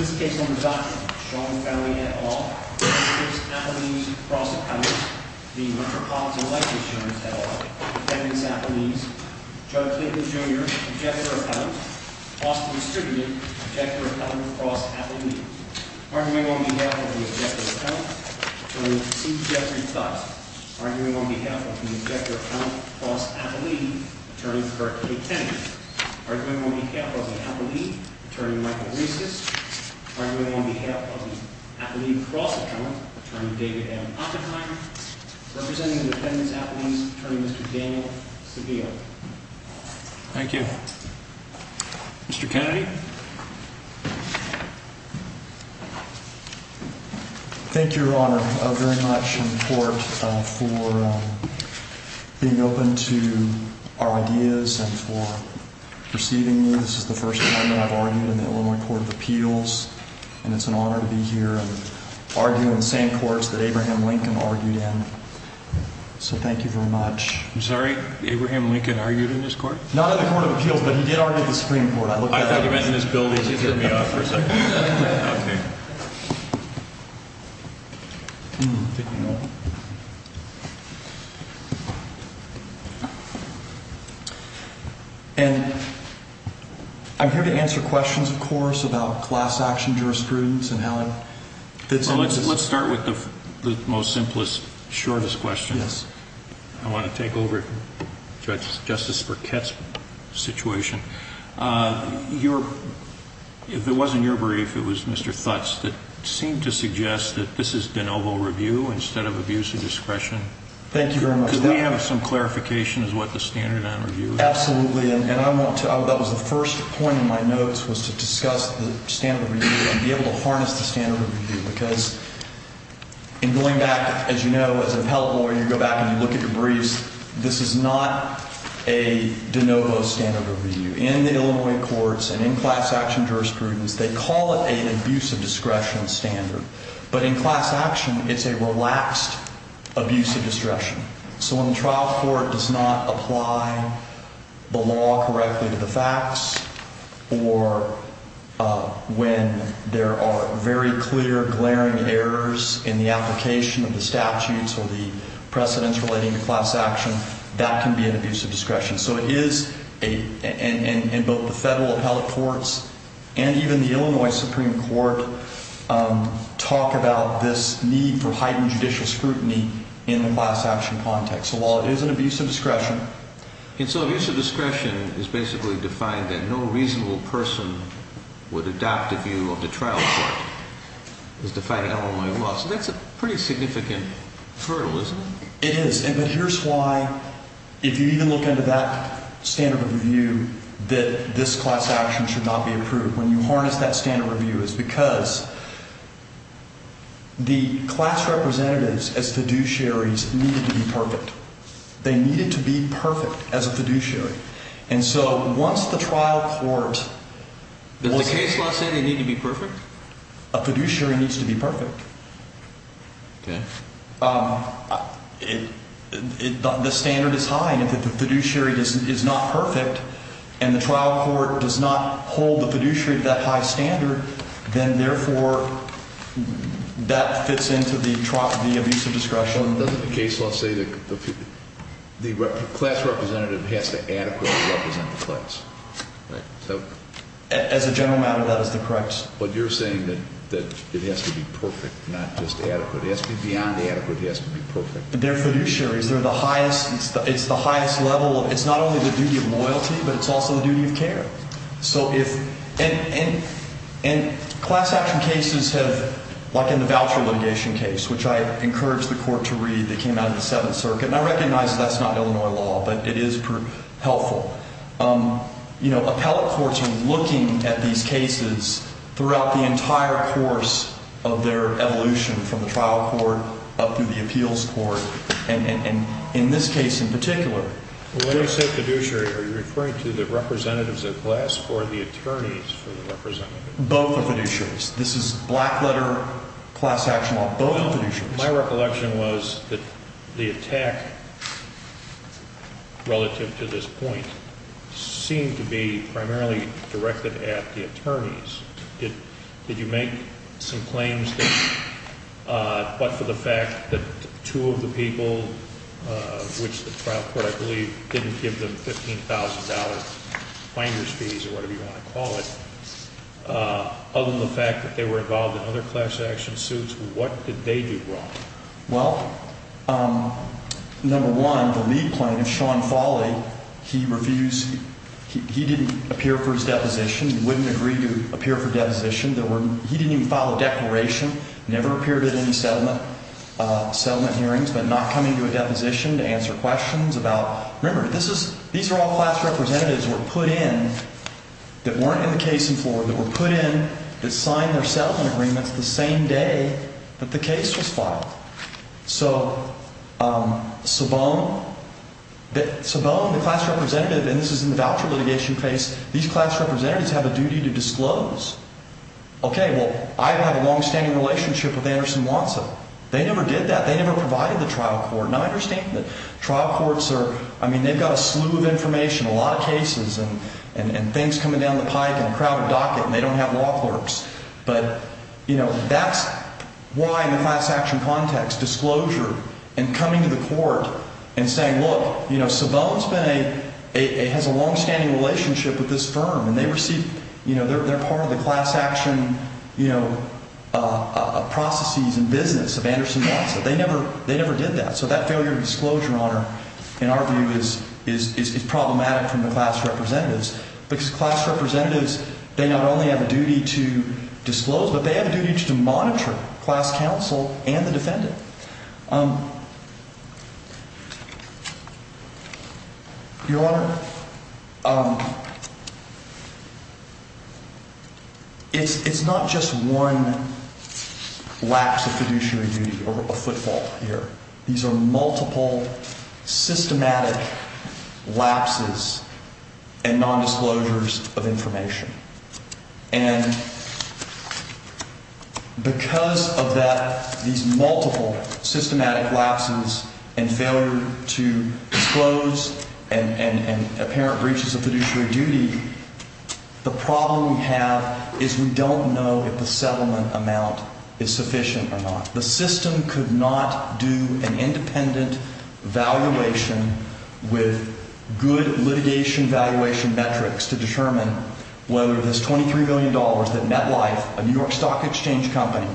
This case on the doctrine, Sean Fauley, et al., v. Applebee's Cross Accounts, v. Metropolitan Life Insurance, et al., defendants Applebee's, Chuck Clayton, Jr., Objector Account, Austin Distributed, Objector Account, Cross Applebee's. Arguing on behalf of the Objector Account, Attorney C. Jeffrey Tutt. Arguing on behalf of the Objector Account, Cross Applebee's, Attorney Kirk A. Kennedy. Arguing on behalf of the Applebee's, Attorney Michael Reiscus. Arguing on behalf of the Applebee's Cross Account, Attorney David M. Oppenheimer. Representing the defendants Applebee's, Attorney Mr. Daniel Seville. Thank you. Mr. Kennedy? Thank you, Your Honor, very much in court for being open to our ideas and for receiving me. This is the first time that I've argued in the Illinois Court of Appeals. And it's an honor to be here and argue in the same courts that Abraham Lincoln argued in. So thank you very much. I'm sorry? Abraham Lincoln argued in this court? Not in the Court of Appeals, but he did argue in the Supreme Court. I thought you meant in this building. And I'm here to answer questions, of course, about class action jurisprudence and how it fits into this. Let's start with the most simplest, shortest question. I want to take over, Justice Burkett's situation. If it wasn't your brief, it was Mr. Thut's that seemed to suggest that this is de novo review instead of abuse of discretion. Thank you very much. Could we have some clarification as to what the standard on review is? Absolutely. And I want to, that was the first point in my notes, was to discuss the standard review and be able to harness the standard review. Because in going back, as you know, as an appellate lawyer, you go back and you look at your briefs, this is not a de novo standard review. In the Illinois courts and in class action jurisprudence, they call it an abuse of discretion standard. But in class action, it's a relaxed abuse of discretion. So when the trial court does not apply the law correctly to the facts or when there are very clear, glaring errors in the application of the statutes or the precedents relating to class action, that can be an abuse of discretion. So it is, and both the federal appellate courts and even the Illinois Supreme Court talk about this need for heightened judicial scrutiny in the class action context. So while it is an abuse of discretion. And so abuse of discretion is basically defined that no reasonable person would adopt a view of the trial court. It's defined in Illinois law. So that's a pretty significant hurdle, isn't it? It is. And here's why, if you even look into that standard review, that this class action should not be approved. When you harness that standard review, it's because the class representatives as fiduciaries needed to be perfect. They needed to be perfect as a fiduciary. And so once the trial court was. Does the case law say they need to be perfect? A fiduciary needs to be perfect. Okay. The standard is high and if the fiduciary is not perfect and the trial court does not hold the fiduciary to that high standard, then therefore that fits into the abuse of discretion. Doesn't the case law say that the class representative has to adequately represent the class? As a general matter, that is the correct. But you're saying that it has to be perfect, not just adequate. It has to be beyond adequate. It has to be perfect. They're fiduciaries. They're the highest. It's the highest level. It's not only the duty of loyalty, but it's also the duty of care. And class action cases have, like in the voucher litigation case, which I encourage the court to read that came out of the Seventh Circuit. And I recognize that's not Illinois law, but it is helpful. You know, appellate courts are looking at these cases throughout the entire course of their evolution from the trial court up to the appeals court. And in this case in particular. When you say fiduciary, are you referring to the representatives of class or the attorneys for the representatives? Both are fiduciaries. This is black letter class action law. Both are fiduciaries. My recollection was that the attack relative to this point seemed to be primarily directed at the attorneys. Did you make some claims, but for the fact that two of the people, which the trial court, I believe, didn't give them $15,000 finder's fees or whatever you want to call it. Other than the fact that they were involved in other class action suits, what did they do wrong? Well, number one, the lead plaintiff, Sean Foley, he refused. He didn't appear for his deposition. He wouldn't agree to appear for deposition. He didn't even file a declaration, never appeared at any settlement hearings, but not come into a deposition to answer questions about. Remember, this is, these are all class representatives were put in that weren't in the case in Florida, were put in, that signed their settlement agreements the same day that the case was filed. So Sabone, Sabone, the class representative, and this is in the voucher litigation case. These class representatives have a duty to disclose. Okay, well, I have a longstanding relationship with Anderson Watson. They never did that. They never provided the trial court. And I understand that trial courts are, I mean, they've got a slew of information, a lot of cases, and things coming down the pike in a crowded docket, and they don't have law clerks. But, you know, that's why in the class action context, disclosure and coming to the court and saying, look, you know, Sabone's been a, has a longstanding relationship with this firm. And they received, you know, they're part of the class action, you know, processes and business of Anderson Watson. They never, they never did that. So that failure of disclosure, Your Honor, in our view is problematic from the class representatives because class representatives, they not only have a duty to disclose, but they have a duty to monitor class counsel and the defendant. Your Honor, it's not just one lapse of fiduciary duty or a footfall here. These are multiple systematic lapses and nondisclosures of information. And because of that, these multiple systematic lapses and failure to disclose and apparent breaches of fiduciary duty, the problem we have is we don't know if the settlement amount is sufficient or not. The system could not do an independent valuation with good litigation valuation metrics to determine whether this $23 billion that MetLife, a New York Stock Exchange company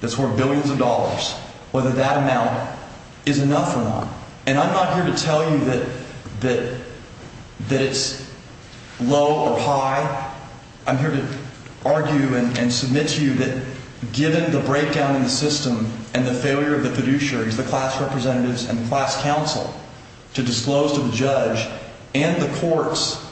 that's worth billions of dollars, whether that amount is enough or not. And I'm not here to tell you that it's low or high. I'm here to argue and submit to you that given the breakdown in the system and the failure of the fiduciaries, the class representatives and class counsel to disclose to the judge and the courts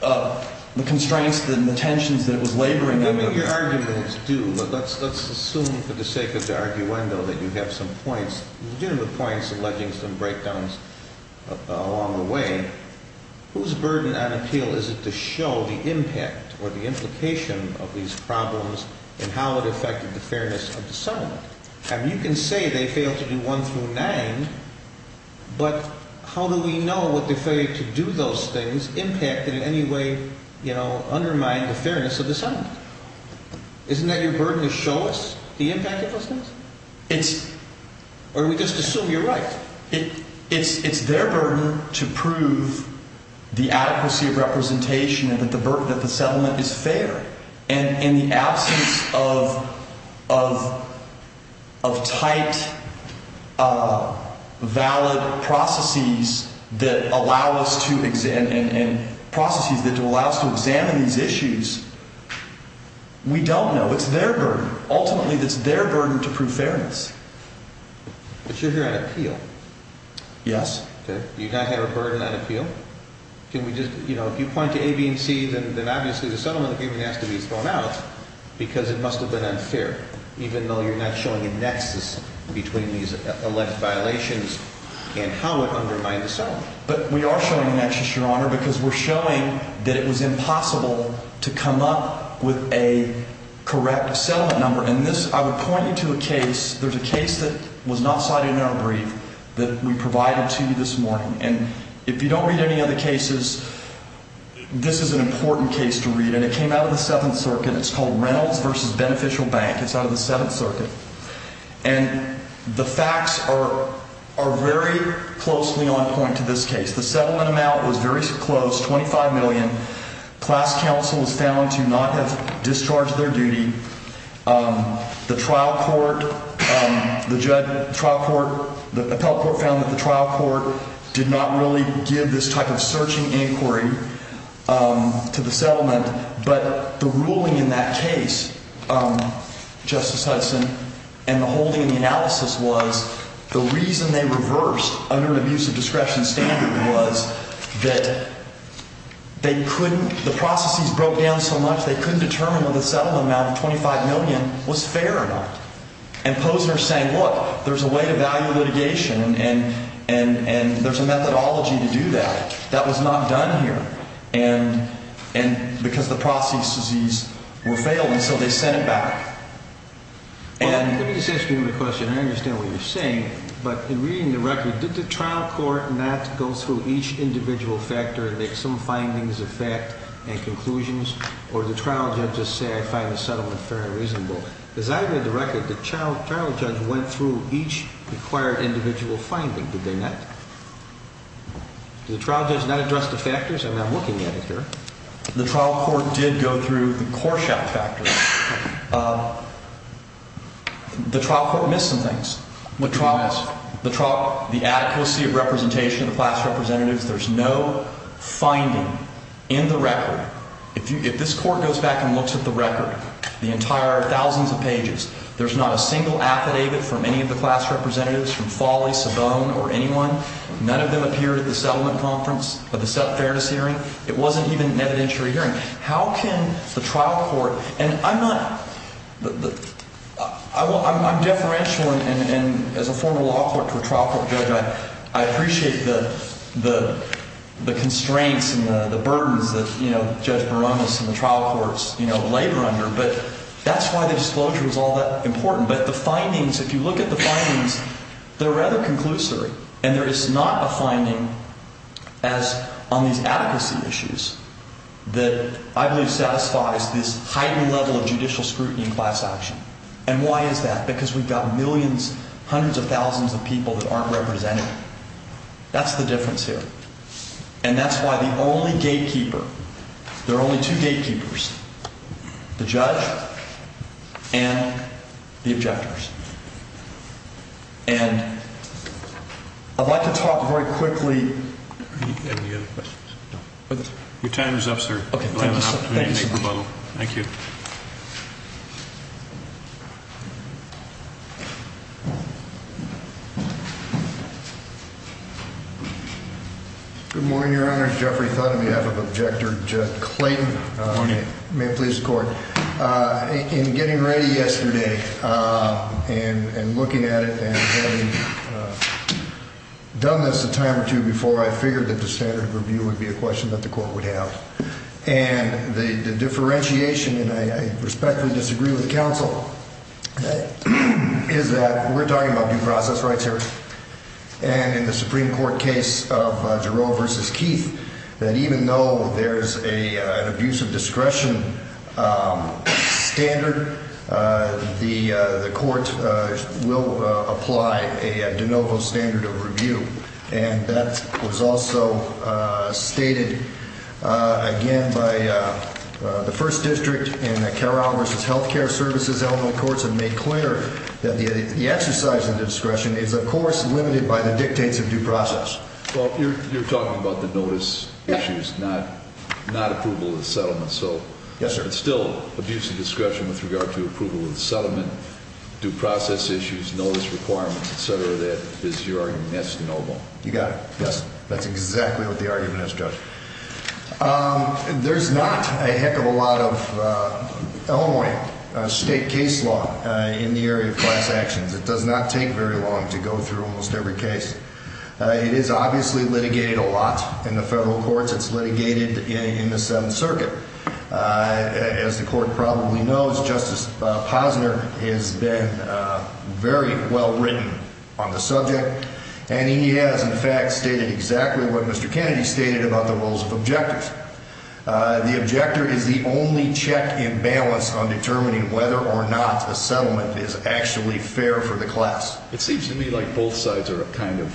the constraints and the tensions that it was laboring under. Your argument is due, but let's assume for the sake of the arguendo that you have some points, legitimate points alleging some breakdowns along the way. Whose burden on appeal is it to show the impact or the implication of these problems and how it affected the fairness of the settlement? I mean, you can say they failed to do one through nine, but how do we know what the failure to do those things impacted in any way, you know, undermined the fairness of the settlement? Isn't that your burden to show us the impact of those things? Or do we just assume you're right? It's their burden to prove the adequacy of representation and that the burden of the settlement is fair. And in the absence of tight, valid processes that allow us to examine and processes that allow us to examine these issues, we don't know. It's their burden. Ultimately, it's their burden to prove fairness. But you're here on appeal. Yes. You don't have a burden on appeal. Can we just, you know, if you point to A, B, and C, then obviously the settlement agreement has to be thrown out because it must have been unfair, even though you're not showing a nexus between these alleged violations and how it undermined the settlement. But we are showing a nexus, Your Honor, because we're showing that it was impossible to come up with a correct settlement number. And I would point you to a case. There's a case that was not cited in our brief that we provided to you this morning. And if you don't read any of the cases, this is an important case to read. And it came out of the Seventh Circuit. It's called Reynolds v. Beneficial Bank. It's out of the Seventh Circuit. And the facts are very closely on point to this case. The settlement amount was very close, $25 million. Class counsel was found to not have discharged their duty. The trial court, the trial court, the appellate court found that the trial court did not really give this type of searching inquiry to the settlement. But the ruling in that case, Justice Hudson, and the holding of the analysis was the reason they reversed under an abusive discretion standard was that they couldn't – the processes broke down so much they couldn't determine whether the settlement amount of $25 million was fair or not. And Posner is saying, look, there's a way to value litigation and there's a methodology to do that. That was not done here. And because the processes were failed, and so they sent it back. Let me just ask you another question. I understand what you're saying. But in reading the record, did the trial court not go through each individual factor and make some findings of fact and conclusions? Or did the trial judges say, I find the settlement fair and reasonable? Because I read the record, the trial judge went through each required individual finding, did they not? Did the trial judge not address the factors? I mean, I'm looking at it here. The trial court did go through the Korshavt factor. The trial court missed some things. What did they miss? The trial – the adequacy of representation of the class representatives. There's no finding in the record. If this court goes back and looks at the record, the entire thousands of pages, there's not a single affidavit from any of the class representatives, from Foley, Savone, or anyone. None of them appeared at the settlement conference or the fairness hearing. It wasn't even an evidentiary hearing. How can the trial court – and I'm not – I'm deferential as a former law court to a trial court judge. I appreciate the constraints and the burdens that, you know, Judge Barones and the trial courts, you know, labor under. But that's why the disclosure was all that important. But the findings, if you look at the findings, they're rather conclusory. And there is not a finding as – on these adequacy issues that I believe satisfies this heightened level of judicial scrutiny in class action. And why is that? Because we've got millions, hundreds of thousands of people that aren't represented. That's the difference here. And that's why the only gatekeeper – there are only two gatekeepers – the judge and the objectors. And I'd like to talk very quickly – Any other questions? Your time is up, sir. Okay. Thank you, sir. Thank you. Good morning, Your Honor. Jeffrey Thun on behalf of Objector Clayton. Good morning. May it please the Court. In getting ready yesterday and looking at it and having done this a time or two before, I figured that the standard of review would be a question that the Court would have. And the differentiation – and I respectfully disagree with counsel – is that we're talking about due process rights here. And in the Supreme Court case of Jarreau v. Keith, that even though there's an abuse of discretion standard, the Court will apply a de novo standard of review. And that was also stated, again, by the First District in the Carole v. Healthcare Services element of the courts and made clear that the exercise of discretion is, of course, limited by the dictates of due process. Well, you're talking about the notice issues, not approval of the settlement. Yes, sir. But still, abuse of discretion with regard to approval of the settlement, due process issues, notice requirements, et cetera, that is your argument. That's de novo. You got it. Yes. That's exactly what the argument is, Judge. There's not a heck of a lot of Illinois state case law in the area of class actions. It does not take very long to go through almost every case. It is obviously litigated a lot in the federal courts. It's litigated in the Seventh Circuit. As the Court probably knows, Justice Posner has been very well written on the subject, and he has, in fact, stated exactly what Mr. Kennedy stated about the rules of objectors. The objector is the only check and balance on determining whether or not a settlement is actually fair for the class. It seems to me like both sides are kind of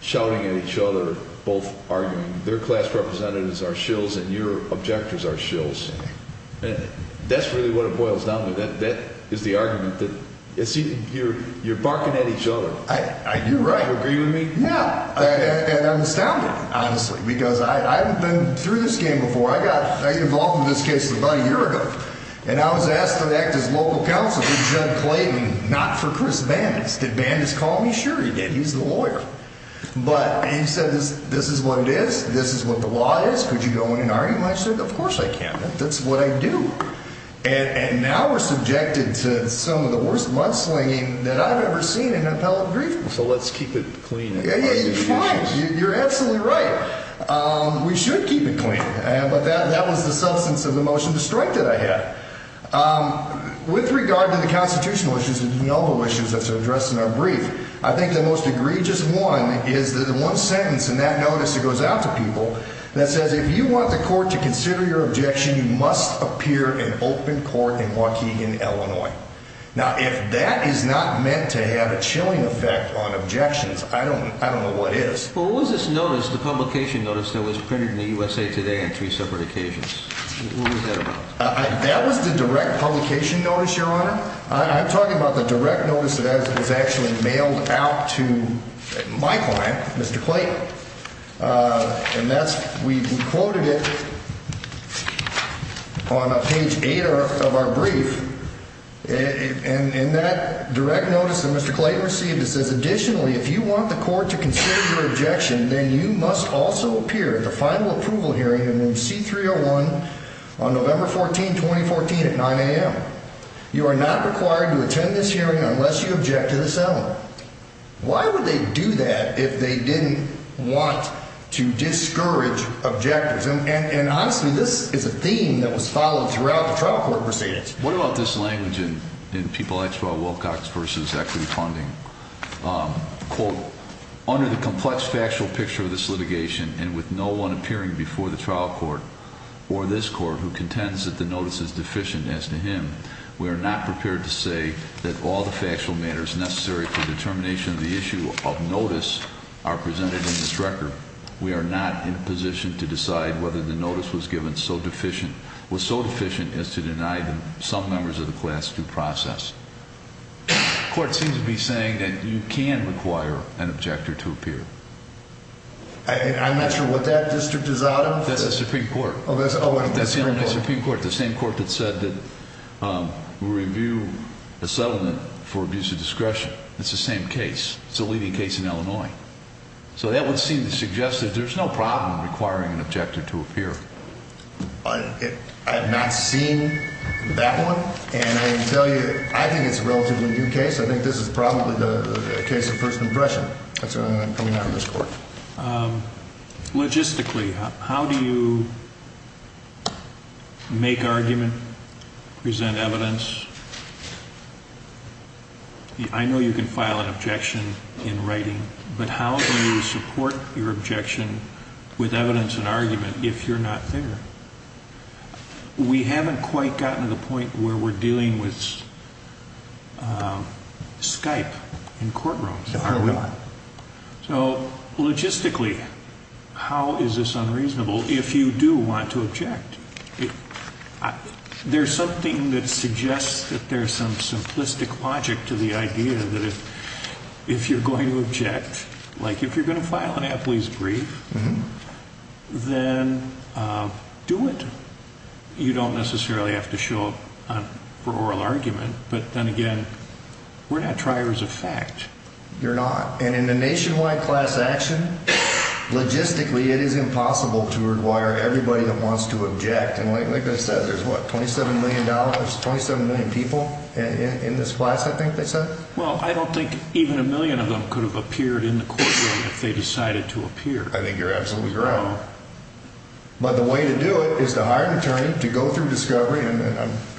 shouting at each other, both arguing their class representatives are shills and your objectors are shills. That's really what it boils down to. That is the argument. You're barking at each other. You're right. Do you agree with me? Yeah. And I'm astounded, honestly, because I've been through this game before. I got involved in this case about a year ago, and I was asked to act as local counsel for Judge Clayton, not for Chris Bandas. Did Bandas call me? Sure he did. He's the lawyer. But he said, this is what it is. This is what the law is. Could you go in and argue? And I said, of course I can. That's what I do. And now we're subjected to some of the worst mudslinging that I've ever seen in an appellate brief. So let's keep it clean. You're absolutely right. We should keep it clean. But that was the substance of the motion to strike that I had. With regard to the constitutional issues and the elbow issues that are addressed in our brief, I think the most egregious one is the one sentence in that notice that goes out to people that says, if you want the court to consider your objection, you must appear in open court in Waukegan, Illinois. Now, if that is not meant to have a chilling effect on objections, I don't know what is. What was this notice, the publication notice that was printed in the USA Today on three separate occasions? What was that about? That was the direct publication notice, Your Honor. I'm talking about the direct notice that was actually mailed out to my client, Mr. Clayton. And we quoted it on page 8 of our brief. And in that direct notice that Mr. Clayton received, it says, additionally, if you want the court to consider your objection, then you must also appear at the final approval hearing in room C-301 on November 14, 2014, at 9 a.m. You are not required to attend this hearing unless you object to this element. Why would they do that if they didn't want to discourage objectors? And honestly, this is a theme that was followed throughout the trial court proceedings. What about this language in People Actual Wilcox v. Equity Funding? Quote, under the complex factual picture of this litigation and with no one appearing before the trial court or this court who contends that the notice is deficient as to him, we are not prepared to say that all the factual matters necessary for determination of the issue of notice are presented in this record. We are not in a position to decide whether the notice was given was so deficient as to deny some members of the class due process. The court seems to be saying that you can require an objector to appear. I'm not sure what that district is out of. That's the Supreme Court. Oh, that's the Supreme Court. That's Illinois Supreme Court, the same court that said that we review a settlement for abuse of discretion. It's the same case. It's a leading case in Illinois. So that would seem to suggest that there's no problem requiring an objector to appear. I have not seen that one. And I can tell you, I think it's a relatively new case. I think this is probably the case of first impression. That's what I'm coming out of this court. Logistically, how do you make argument, present evidence? I know you can file an objection in writing. But how do you support your objection with evidence and argument if you're not there? We haven't quite gotten to the point where we're dealing with Skype in courtrooms, are we? So logistically, how is this unreasonable if you do want to object? There's something that suggests that there's some simplistic logic to the idea that if you're going to object, like if you're going to file an athlete's brief, then do it. You don't necessarily have to show up for oral argument. But then again, we're not triers of fact. You're not. And in a nationwide class action, logistically, it is impossible to require everybody that wants to object. And like I said, there's, what, $27 million, 27 million people in this class, I think they said? Well, I don't think even a million of them could have appeared in the courtroom if they decided to appear. I think you're absolutely correct. But the way to do it is to hire an attorney to go through discovery. And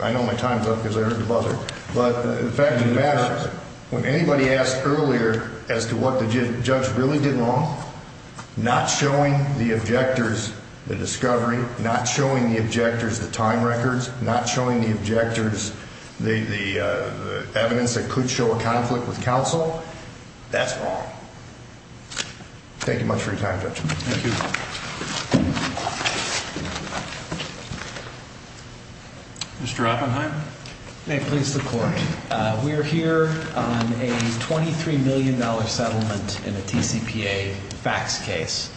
I know my time's up because I heard the buzzer. But the fact of the matter is, when anybody asked earlier as to what the judge really did wrong, not showing the objectors the discovery, not showing the objectors the time records, not showing the objectors the evidence that could show a conflict with counsel, that's wrong. Thank you much for your time, Judge. Thank you. Mr. Oppenheim? May it please the Court. We are here on a $23 million settlement in a TCPA fax case.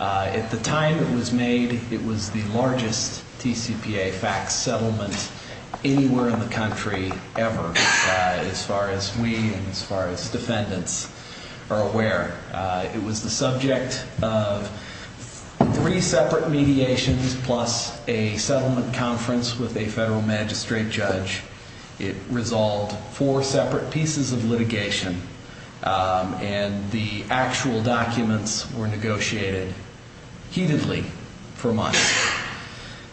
At the time it was made, it was the largest TCPA fax settlement anywhere in the country ever, as far as we and as far as defendants are aware. It was the subject of three separate mediations plus a settlement conference with a federal magistrate judge. It resolved four separate pieces of litigation. And the actual documents were negotiated heatedly for months.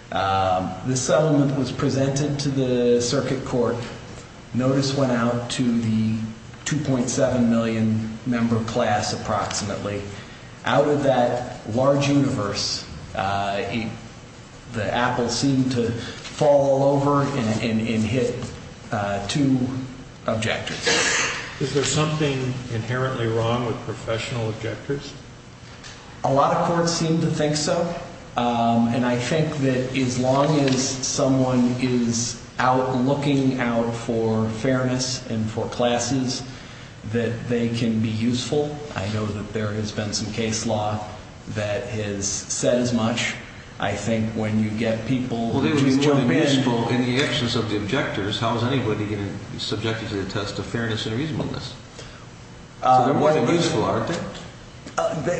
The settlement was presented to the circuit court. Notice went out to the 2.7 million member class approximately. Out of that large universe, the apple seemed to fall all over and hit two objectors. Is there something inherently wrong with professional objectors? A lot of courts seem to think so. And I think that as long as someone is out looking out for fairness and for classes, that they can be useful. I know that there has been some case law that has said as much. I think when you get people who jump in. Well, they would be more than useful in the actions of the objectors. How is anybody going to be subjected to the test of fairness and reasonableness? So they're more than useful, aren't they?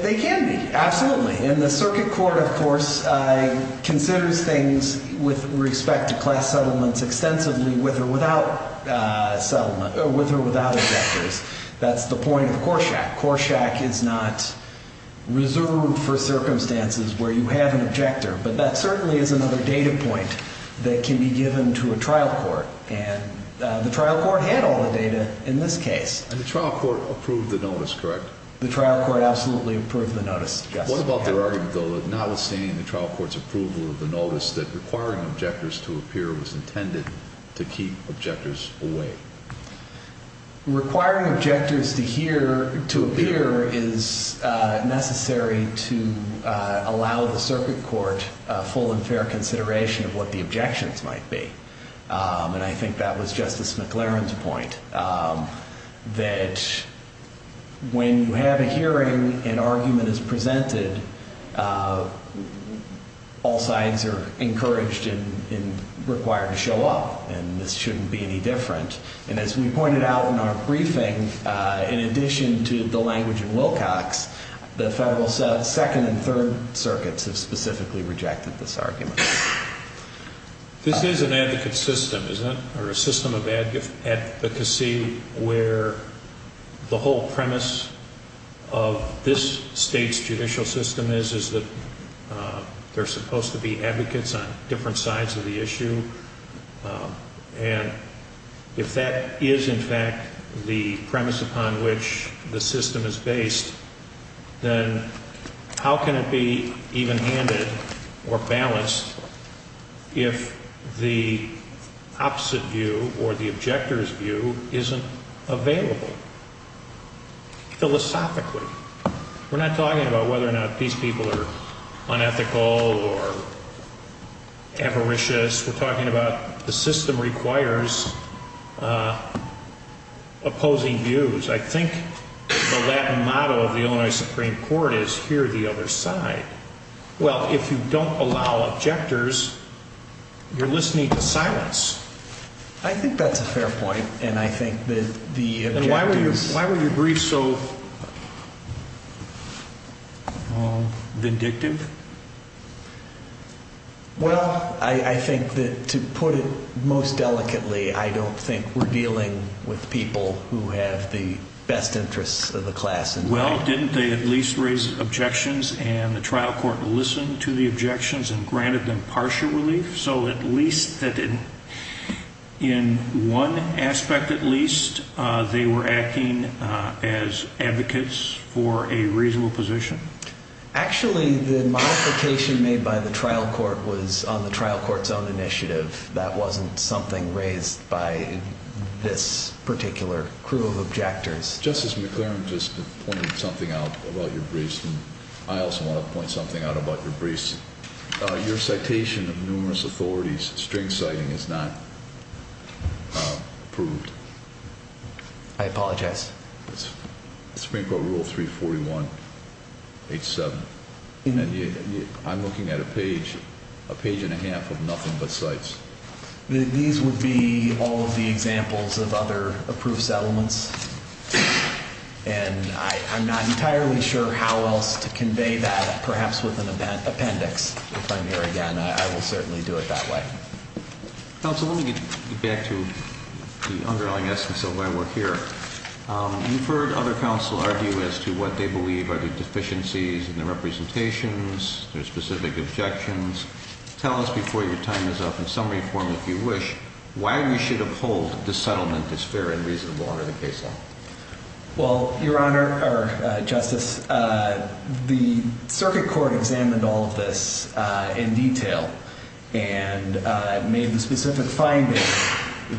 They can be, absolutely. And the circuit court, of course, considers things with respect to class settlements extensively with or without objectors. That's the point of Corshack. Corshack is not reserved for circumstances where you have an objector. But that certainly is another data point that can be given to a trial court. And the trial court had all the data in this case. And the trial court approved the notice, correct? The trial court absolutely approved the notice, yes. What about their argument, though, that notwithstanding the trial court's approval of the notice, that requiring objectors to appear was intended to keep objectors away? Requiring objectors to appear is necessary to allow the circuit court full and fair consideration of what the objections might be. And I think that was Justice McLaren's point. That when you have a hearing, an argument is presented, all sides are encouraged and required to show up. And this shouldn't be any different. And as we pointed out in our briefing, in addition to the language in Wilcox, the Federal Second and Third Circuits have specifically rejected this argument. This is an advocate system, isn't it? Or a system of advocacy where the whole premise of this State's judicial system is, is that there are supposed to be advocates on different sides of the issue. And if that is, in fact, the premise upon which the system is based, then how can it be evenhanded or balanced if the opposite view or the objector's view isn't available? Philosophically. We're not talking about whether or not these people are unethical or avaricious. We're talking about the system requires opposing views. I think the Latin motto of the Illinois Supreme Court is, hear the other side. Well, if you don't allow objectors, you're listening to silence. I think that's a fair point. And I think that the objectives… And why were your briefs so vindictive? Well, I think that, to put it most delicately, I don't think we're dealing with people who have the best interests of the class in mind. Well, didn't they at least raise objections and the trial court listened to the objections and granted them partial relief? So at least in one aspect at least, they were acting as advocates for a reasonable position? Actually, the modification made by the trial court was on the trial court's own initiative. That wasn't something raised by this particular crew of objectors. Justice McLaren just pointed something out about your briefs, and I also want to point something out about your briefs. Your citation of numerous authorities, string citing, is not approved. I apologize. It's Supreme Court Rule 341.87. I'm looking at a page, a page and a half of nothing but cites. These would be all of the examples of other approved settlements, and I'm not entirely sure how else to convey that, perhaps with an appendix. If I'm here again, I will certainly do it that way. Counsel, let me get back to the underlying essence of why we're here. You've heard other counsel argue as to what they believe are the deficiencies in the representations, their specific objections. Tell us before your time is up, in summary form if you wish, why we should uphold the settlement as fair and reasonable under the case law. Well, Your Honor, or Justice, the circuit court examined all of this in detail, and made the specific findings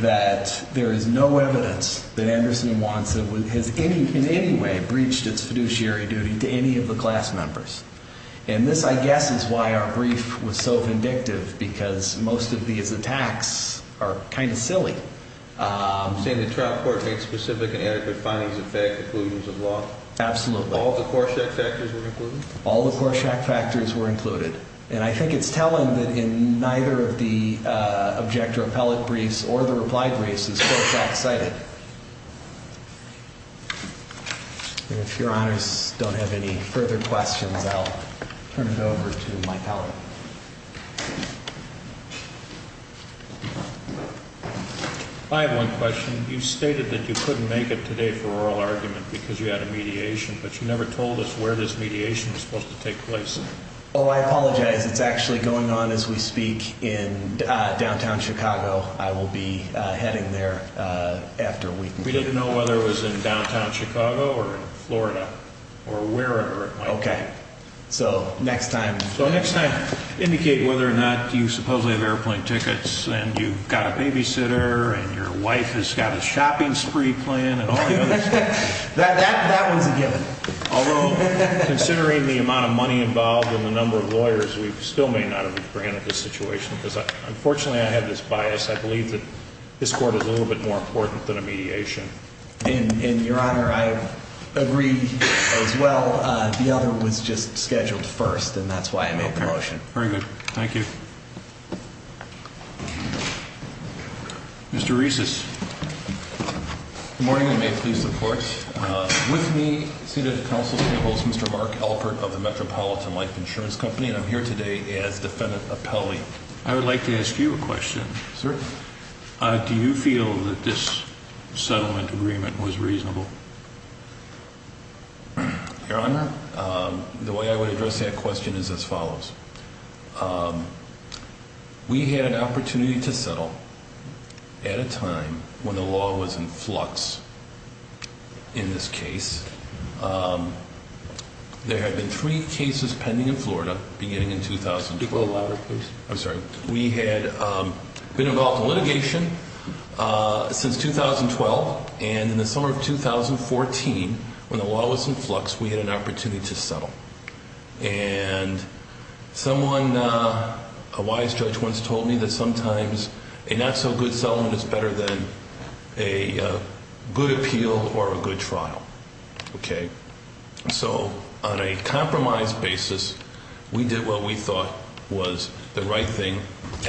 that there is no evidence that Anderson and Wantson has in any way breached its fiduciary duty to any of the class members. And this, I guess, is why our brief was so vindictive, because most of these attacks are kind of silly. You're saying the trial court made specific and adequate findings of fair conclusions of law? Absolutely. All the Korshak factors were included? All the Korshak factors were included. And I think it's telling that in neither of the objector appellate briefs or the reply briefs is Korshak cited. And if Your Honors don't have any further questions, I'll turn it over to my appellate. I have one question. You stated that you couldn't make it today for oral argument because you had a mediation, but you never told us where this mediation was supposed to take place. Oh, I apologize. It's actually going on as we speak in downtown Chicago. I will be heading there after a week. We didn't know whether it was in downtown Chicago or in Florida or wherever it might be. Okay. So next time. So next time, indicate whether or not you supposedly have airplane tickets and you've got a babysitter and your wife has got a shopping spree plan and all the other stuff. That was a given. Although, considering the amount of money involved and the number of lawyers, we still may not have granted this situation because, unfortunately, I have this bias. I believe that this court is a little bit more important than a mediation. And, Your Honor, I agree as well. The other was just scheduled first, and that's why I made the motion. Okay. Very good. Thank you. Mr. Reeses. Good morning, and may it please the Court. With me seated at the Council table is Mr. Mark Alpert of the Metropolitan Life Insurance Company, and I'm here today as defendant appellee. I would like to ask you a question. Certainly. Do you feel that this settlement agreement was reasonable? Your Honor, the way I would address that question is as follows. We had an opportunity to settle at a time when the law was in flux. In this case, there had been three cases pending in Florida beginning in 2012. Speak a little louder, please. I'm sorry. We had been involved in litigation since 2012, and in the summer of 2014, when the law was in flux, we had an opportunity to settle. And someone, a wise judge, once told me that sometimes a not so good settlement is better than a good appeal or a good trial. Okay? So on a compromise basis, we did what we thought was the right thing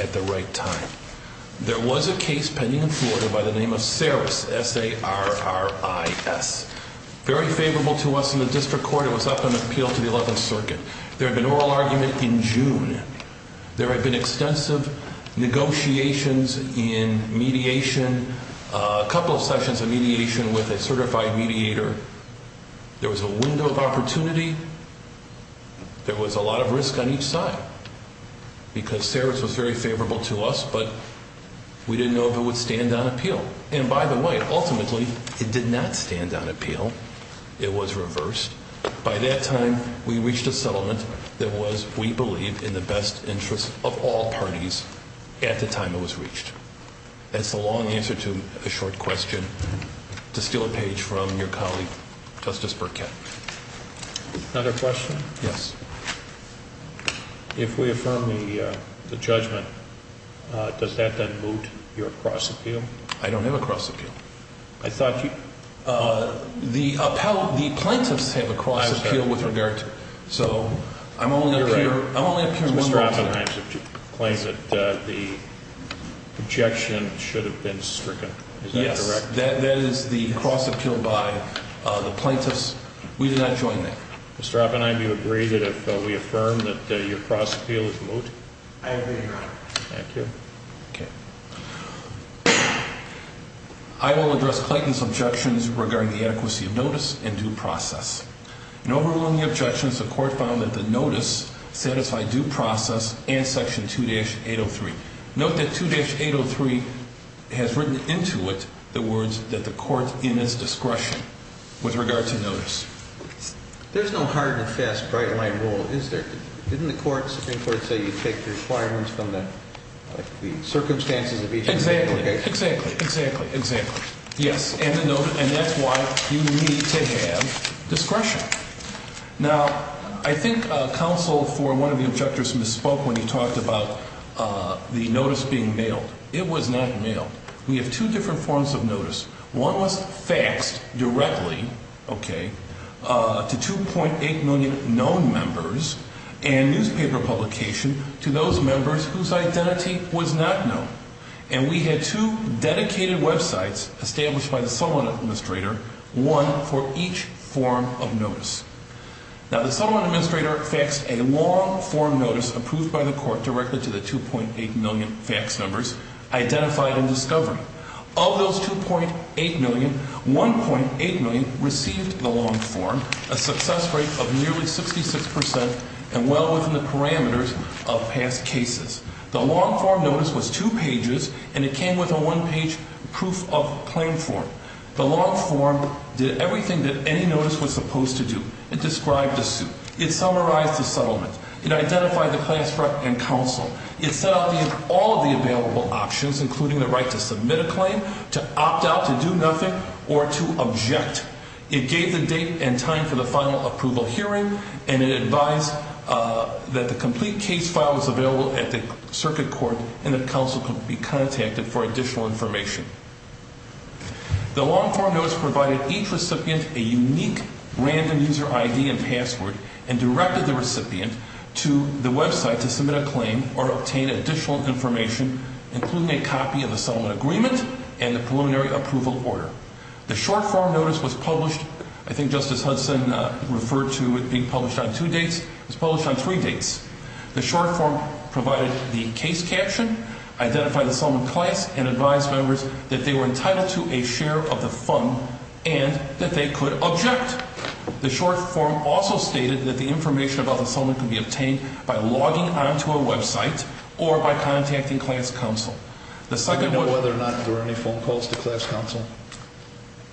at the right time. There was a case pending in Florida by the name of Sarris, S-A-R-R-I-S, very favorable to us in the district court. It was up in appeal to the 11th Circuit. There had been an oral argument in June. There had been extensive negotiations in mediation, a couple of sessions of mediation with a certified mediator. There was a window of opportunity. There was a lot of risk on each side because Sarris was very favorable to us, but we didn't know if it would stand on appeal. And by the way, ultimately, it did not stand on appeal. It was reversed. By that time, we reached a settlement that was, we believe, in the best interest of all parties at the time it was reached. That's the long answer to a short question. To steal a page from your colleague, Justice Burkett. Another question? Yes. If we affirm the judgment, does that then moot your cross appeal? I don't have a cross appeal. The plaintiffs have a cross appeal with regard to it. So I'm only appearing one more time. Mr. Oppenheim claims that the objection should have been stricken. Is that correct? Yes, that is the cross appeal by the plaintiffs. We did not join that. Mr. Oppenheim, do you agree that if we affirm that your cross appeal is moot? I agree, Your Honor. Thank you. Okay. I will address Clayton's objections regarding the adequacy of notice and due process. In overruling the objections, the court found that the notice satisfied due process and Section 2-803. Note that 2-803 has written into it the words that the court in its discretion with regard to notice. There's no hard and fast bright line rule, is there? Didn't the Supreme Court say you take the requirements from the circumstances of each case? Exactly. Exactly. Exactly. Yes. And that's why you need to have discretion. Now, I think counsel for one of the objectors misspoke when he talked about the notice being mailed. It was not mailed. We have two different forms of notice. One was faxed directly, okay, to 2.8 million known members and newspaper publication to those members whose identity was not known. And we had two dedicated websites established by the settlement administrator, one for each form of notice. Now, the settlement administrator faxed a long form notice approved by the court directly to the 2.8 million fax numbers identified in discovery. Of those 2.8 million, 1.8 million received the long form, a success rate of nearly 66 percent and well within the parameters of past cases. The long form notice was two pages, and it came with a one-page proof of claim form. The long form did everything that any notice was supposed to do. It described the suit. It summarized the settlement. It identified the class threat and counsel. It set out all of the available options, including the right to submit a claim, to opt out, to do nothing, or to object. It gave the date and time for the final approval hearing, and it advised that the complete case file was available at the circuit court and that counsel could be contacted for additional information. The long form notice provided each recipient a unique random user ID and password and directed the recipient to the website to submit a claim or obtain additional information, including a copy of the settlement agreement and the preliminary approval order. The short form notice was published, I think Justice Hudson referred to it being published on two dates. It was published on three dates. The short form provided the case caption, identified the settlement class, and advised members that they were entitled to a share of the fund and that they could object. The short form also stated that the information about the settlement could be obtained by logging onto a website or by contacting class counsel. Do you know whether or not there were any phone calls to class counsel?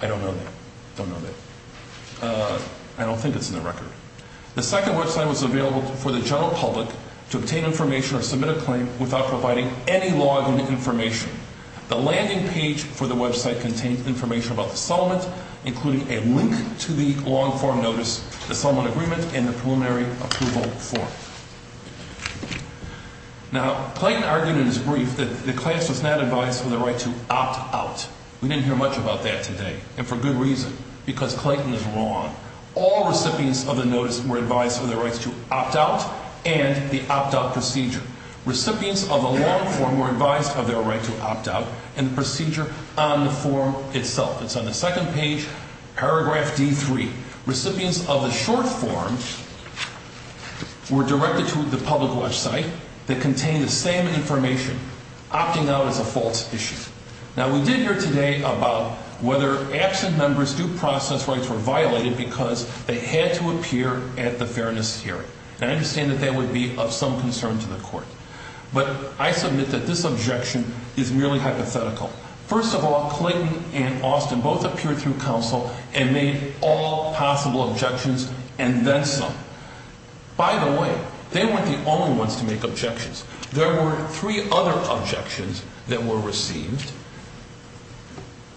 I don't know that. I don't know that. I don't think it's in the record. The second website was available for the general public to obtain information or submit a claim without providing any login information. The landing page for the website contained information about the settlement, including a link to the long form notice, the settlement agreement, and the preliminary approval form. Now, Clayton argued in his brief that the class was not advised for the right to opt out. We didn't hear much about that today, and for good reason, because Clayton is wrong. All recipients of the notice were advised of their right to opt out and the opt-out procedure. Recipients of the long form were advised of their right to opt out and the procedure on the form itself. It's on the second page, paragraph D3. Recipients of the short form were directed to the public website that contained the same information, opting out as a false issue. Now, we did hear today about whether absent members' due process rights were violated because they had to appear at the fairness hearing. And I understand that that would be of some concern to the court. But I submit that this objection is merely hypothetical. First of all, Clayton and Austin both appeared through counsel and made all possible objections and then some. By the way, they weren't the only ones to make objections. There were three other objections that were received.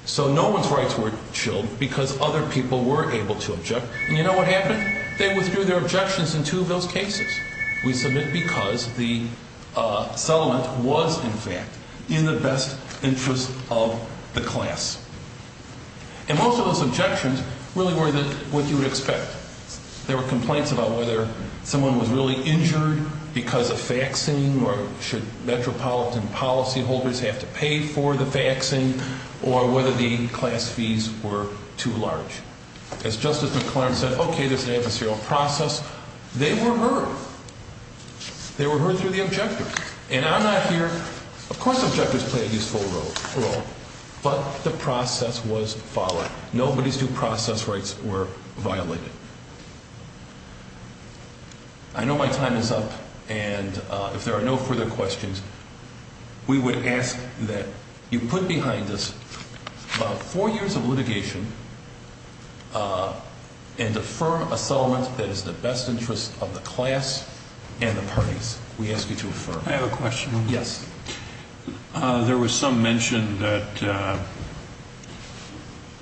So no one's rights were chilled because other people were able to object. And you know what happened? They withdrew their objections in two of those cases. We submit because the settlement was, in fact, in the best interest of the class. And most of those objections really were what you would expect. There were complaints about whether someone was really injured because of faxing or should metropolitan policyholders have to pay for the faxing or whether the class fees were too large. As Justice McClaren said, okay, there's an adversarial process. They were heard. They were heard through the objectors. And I'm not here. Of course objectors play a useful role. But the process was followed. Nobody's due process rights were violated. I know my time is up. And if there are no further questions, we would ask that you put behind us about four years of litigation and affirm a settlement that is in the best interest of the class and the parties. We ask you to affirm. I have a question. Yes. There was some mention that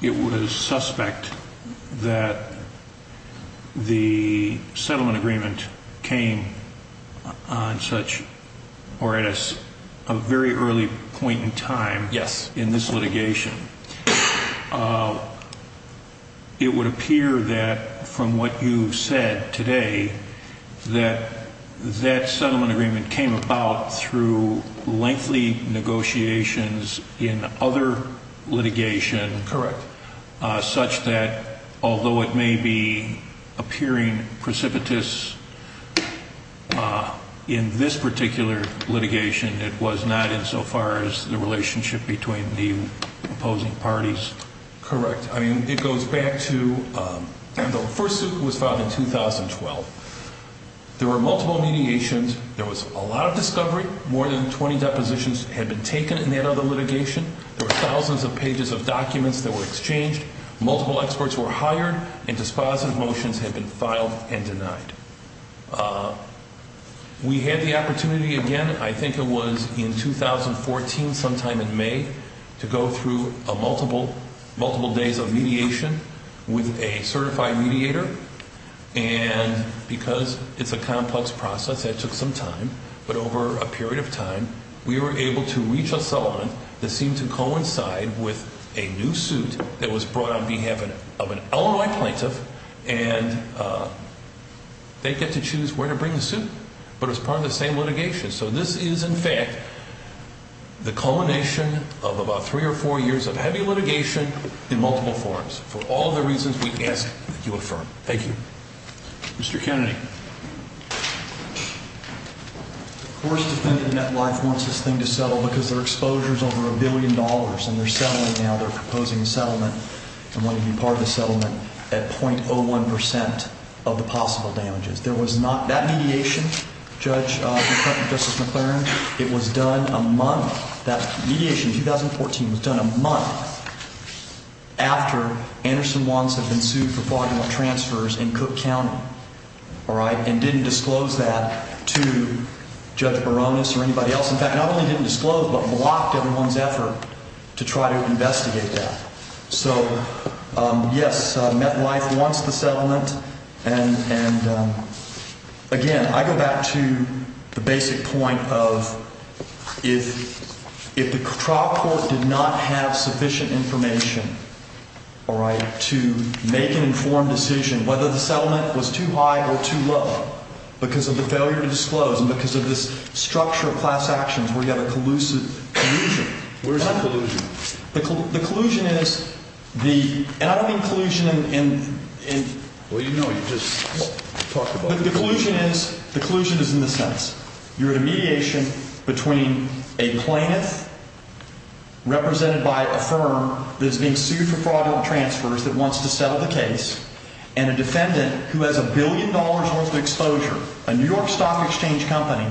it was suspect that the settlement agreement came on such or at a very early point in time. Yes. In this litigation. It would appear that from what you've said today that that settlement agreement came about through lengthy negotiations in other litigation. Correct. Such that although it may be appearing precipitous in this particular litigation, it was not in so far as the relationship between the opposing parties. Correct. I mean, it goes back to the first suit was filed in 2012. There were multiple mediations. There was a lot of discovery. More than 20 depositions had been taken in that other litigation. There were thousands of pages of documents that were exchanged. Multiple experts were hired and dispositive motions had been filed and denied. We had the opportunity again, I think it was in 2014 sometime in May, to go through multiple days of mediation with a certified mediator. And because it's a complex process, that took some time. But over a period of time, we were able to reach a settlement that seemed to coincide with a new suit that was brought on behalf of an Illinois plaintiff. And they get to choose where to bring the suit. But it's part of the same litigation. So this is, in fact, the culmination of about three or four years of heavy litigation in multiple forms. For all the reasons we ask that you affirm. Thank you. Mr. Kennedy. The first defendant in that life wants this thing to settle because their exposure is over a billion dollars. And they're settling now. They're proposing a settlement and wanting to be part of the settlement at .01% of the possible damages. That mediation, Judge Justice McLaren, it was done a month. That mediation in 2014 was done a month after Anderson-Wants had been sued for fraudulent transfers in Cook County. And didn't disclose that to Judge Baronis or anybody else. In fact, not only didn't disclose, but blocked everyone's effort to try to investigate that. So, yes, MetLife wants the settlement. And, again, I go back to the basic point of if the trial court did not have sufficient information to make an informed decision, whether the settlement was too high or too low because of the failure to disclose and because of this structure of class actions where you have a collusion. Where is that collusion? The collusion is the – and I don't mean collusion in – Well, you know, you just talked about it. The collusion is – the collusion is in this sense. You're in a mediation between a plaintiff represented by a firm that is being sued for fraudulent transfers that wants to settle the case and a defendant who has a billion dollars worth of exposure, a New York Stock Exchange company.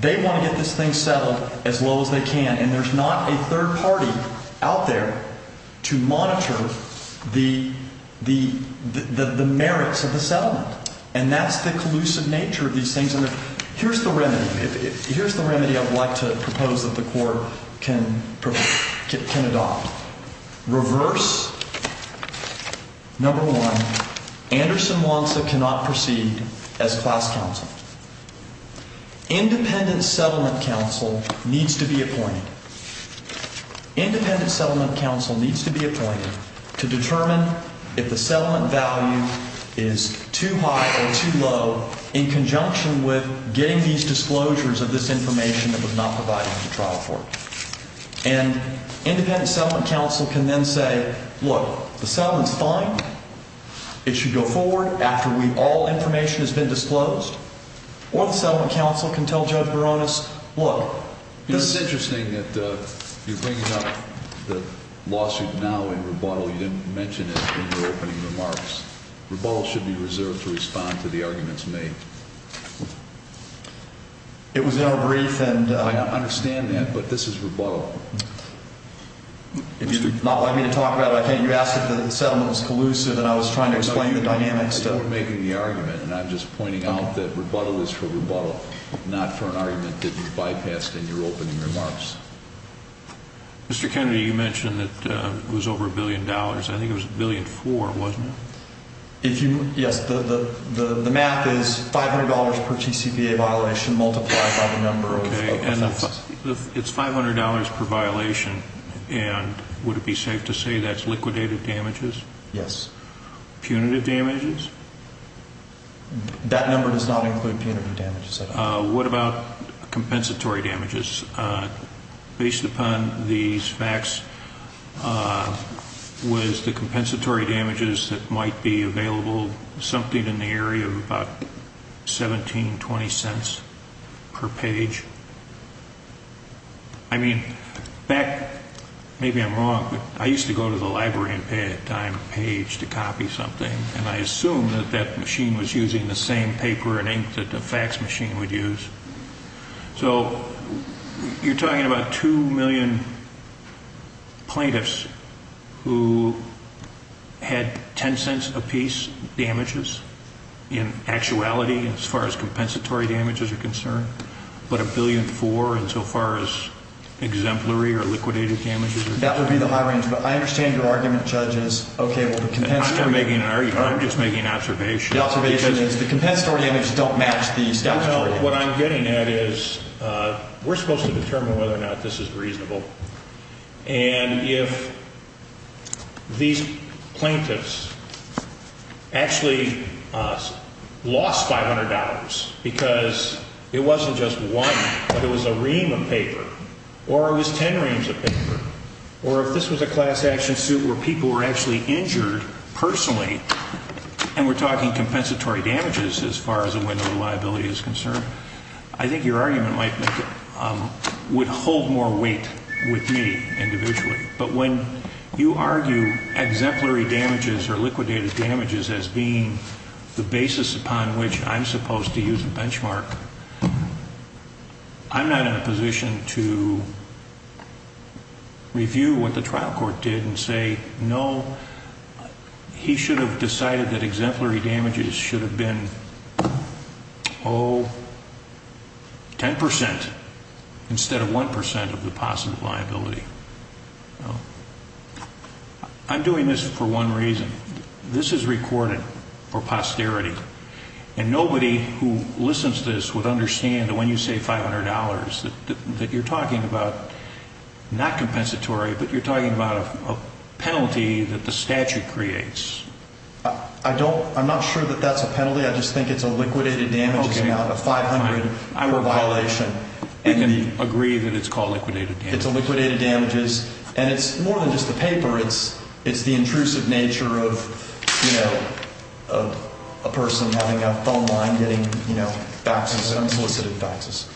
They want to get this thing settled as low as they can. And there's not a third party out there to monitor the merits of the settlement. And that's the collusive nature of these things. And here's the remedy. Here's the remedy I would like to propose that the court can adopt. Reverse, number one, Anderson-Lanza cannot proceed as class counsel. Independent settlement counsel needs to be appointed. Independent settlement counsel needs to be appointed to determine if the settlement value is too high or too low in conjunction with getting these disclosures of this information that was not provided to the trial court. And independent settlement counsel can then say, look, the settlement's fine. It should go forward after all information has been disclosed. Or the settlement counsel can tell Judge Baronis, look, there's – It's interesting that you're bringing up the lawsuit now in rebuttal. You didn't mention it in your opening remarks. Rebuttal should be reserved to respond to the arguments made. It was in our brief and – I understand that, but this is rebuttal. If you do not want me to talk about it, I can't. You asked if the settlement was collusive, and I was trying to explain the dynamics to – No, you were making the argument, and I'm just pointing out that rebuttal is for rebuttal, not for an argument that you bypassed in your opening remarks. Mr. Kennedy, you mentioned that it was over $1 billion. I think it was $1.4 billion, wasn't it? If you – yes, the math is $500 per TCPA violation multiplied by the number of offenses. It's $500 per violation, and would it be safe to say that's liquidated damages? Yes. Punitive damages? That number does not include punitive damages. What about compensatory damages? Based upon these facts, was the compensatory damages that might be available something in the area of about $0.17, $0.20 per page? I mean, back – maybe I'm wrong, but I used to go to the library and pay a dime a page to copy something, and I assumed that that machine was using the same paper and ink that the fax machine would use. So you're talking about 2 million plaintiffs who had $0.10 a piece damages in actuality, as far as compensatory damages are concerned, but $1.4 billion in so far as exemplary or liquidated damages? That would be the high range, but I understand your argument, Judge, is okay, well, the compensatory – I'm not making an argument. I'm just making an observation. The observation is the compensatory damages don't match the statutory damages. Well, what I'm getting at is we're supposed to determine whether or not this is reasonable, and if these plaintiffs actually lost $500 because it wasn't just one, but it was a ream of paper, or it was 10 reams of paper, or if this was a class action suit where people were actually injured personally, and we're talking compensatory damages as far as a window of liability is concerned, I think your argument would hold more weight with me individually. But when you argue exemplary damages or liquidated damages as being the basis upon which I'm supposed to use a benchmark, I'm not in a position to review what the trial court did and say, no, he should have decided that exemplary damages should have been, oh, 10% instead of 1% of the possible liability. I'm doing this for one reason. This is recorded for posterity, and nobody who listens to this would understand that when you say $500 that you're talking about not compensatory, but you're talking about a penalty that the statute creates. I'm not sure that that's a penalty. I just think it's a liquidated damages amount of $500 per violation. We can agree that it's called liquidated damages. It's a liquidated damages, and it's more than just the paper. It's the intrusive nature of a person having a phone line getting faxes, unsolicited faxes.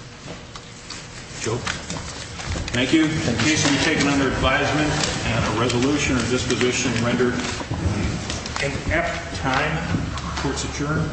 Thank you. The case will be taken under advisement and a resolution or disposition rendered in F time. Court's adjourned.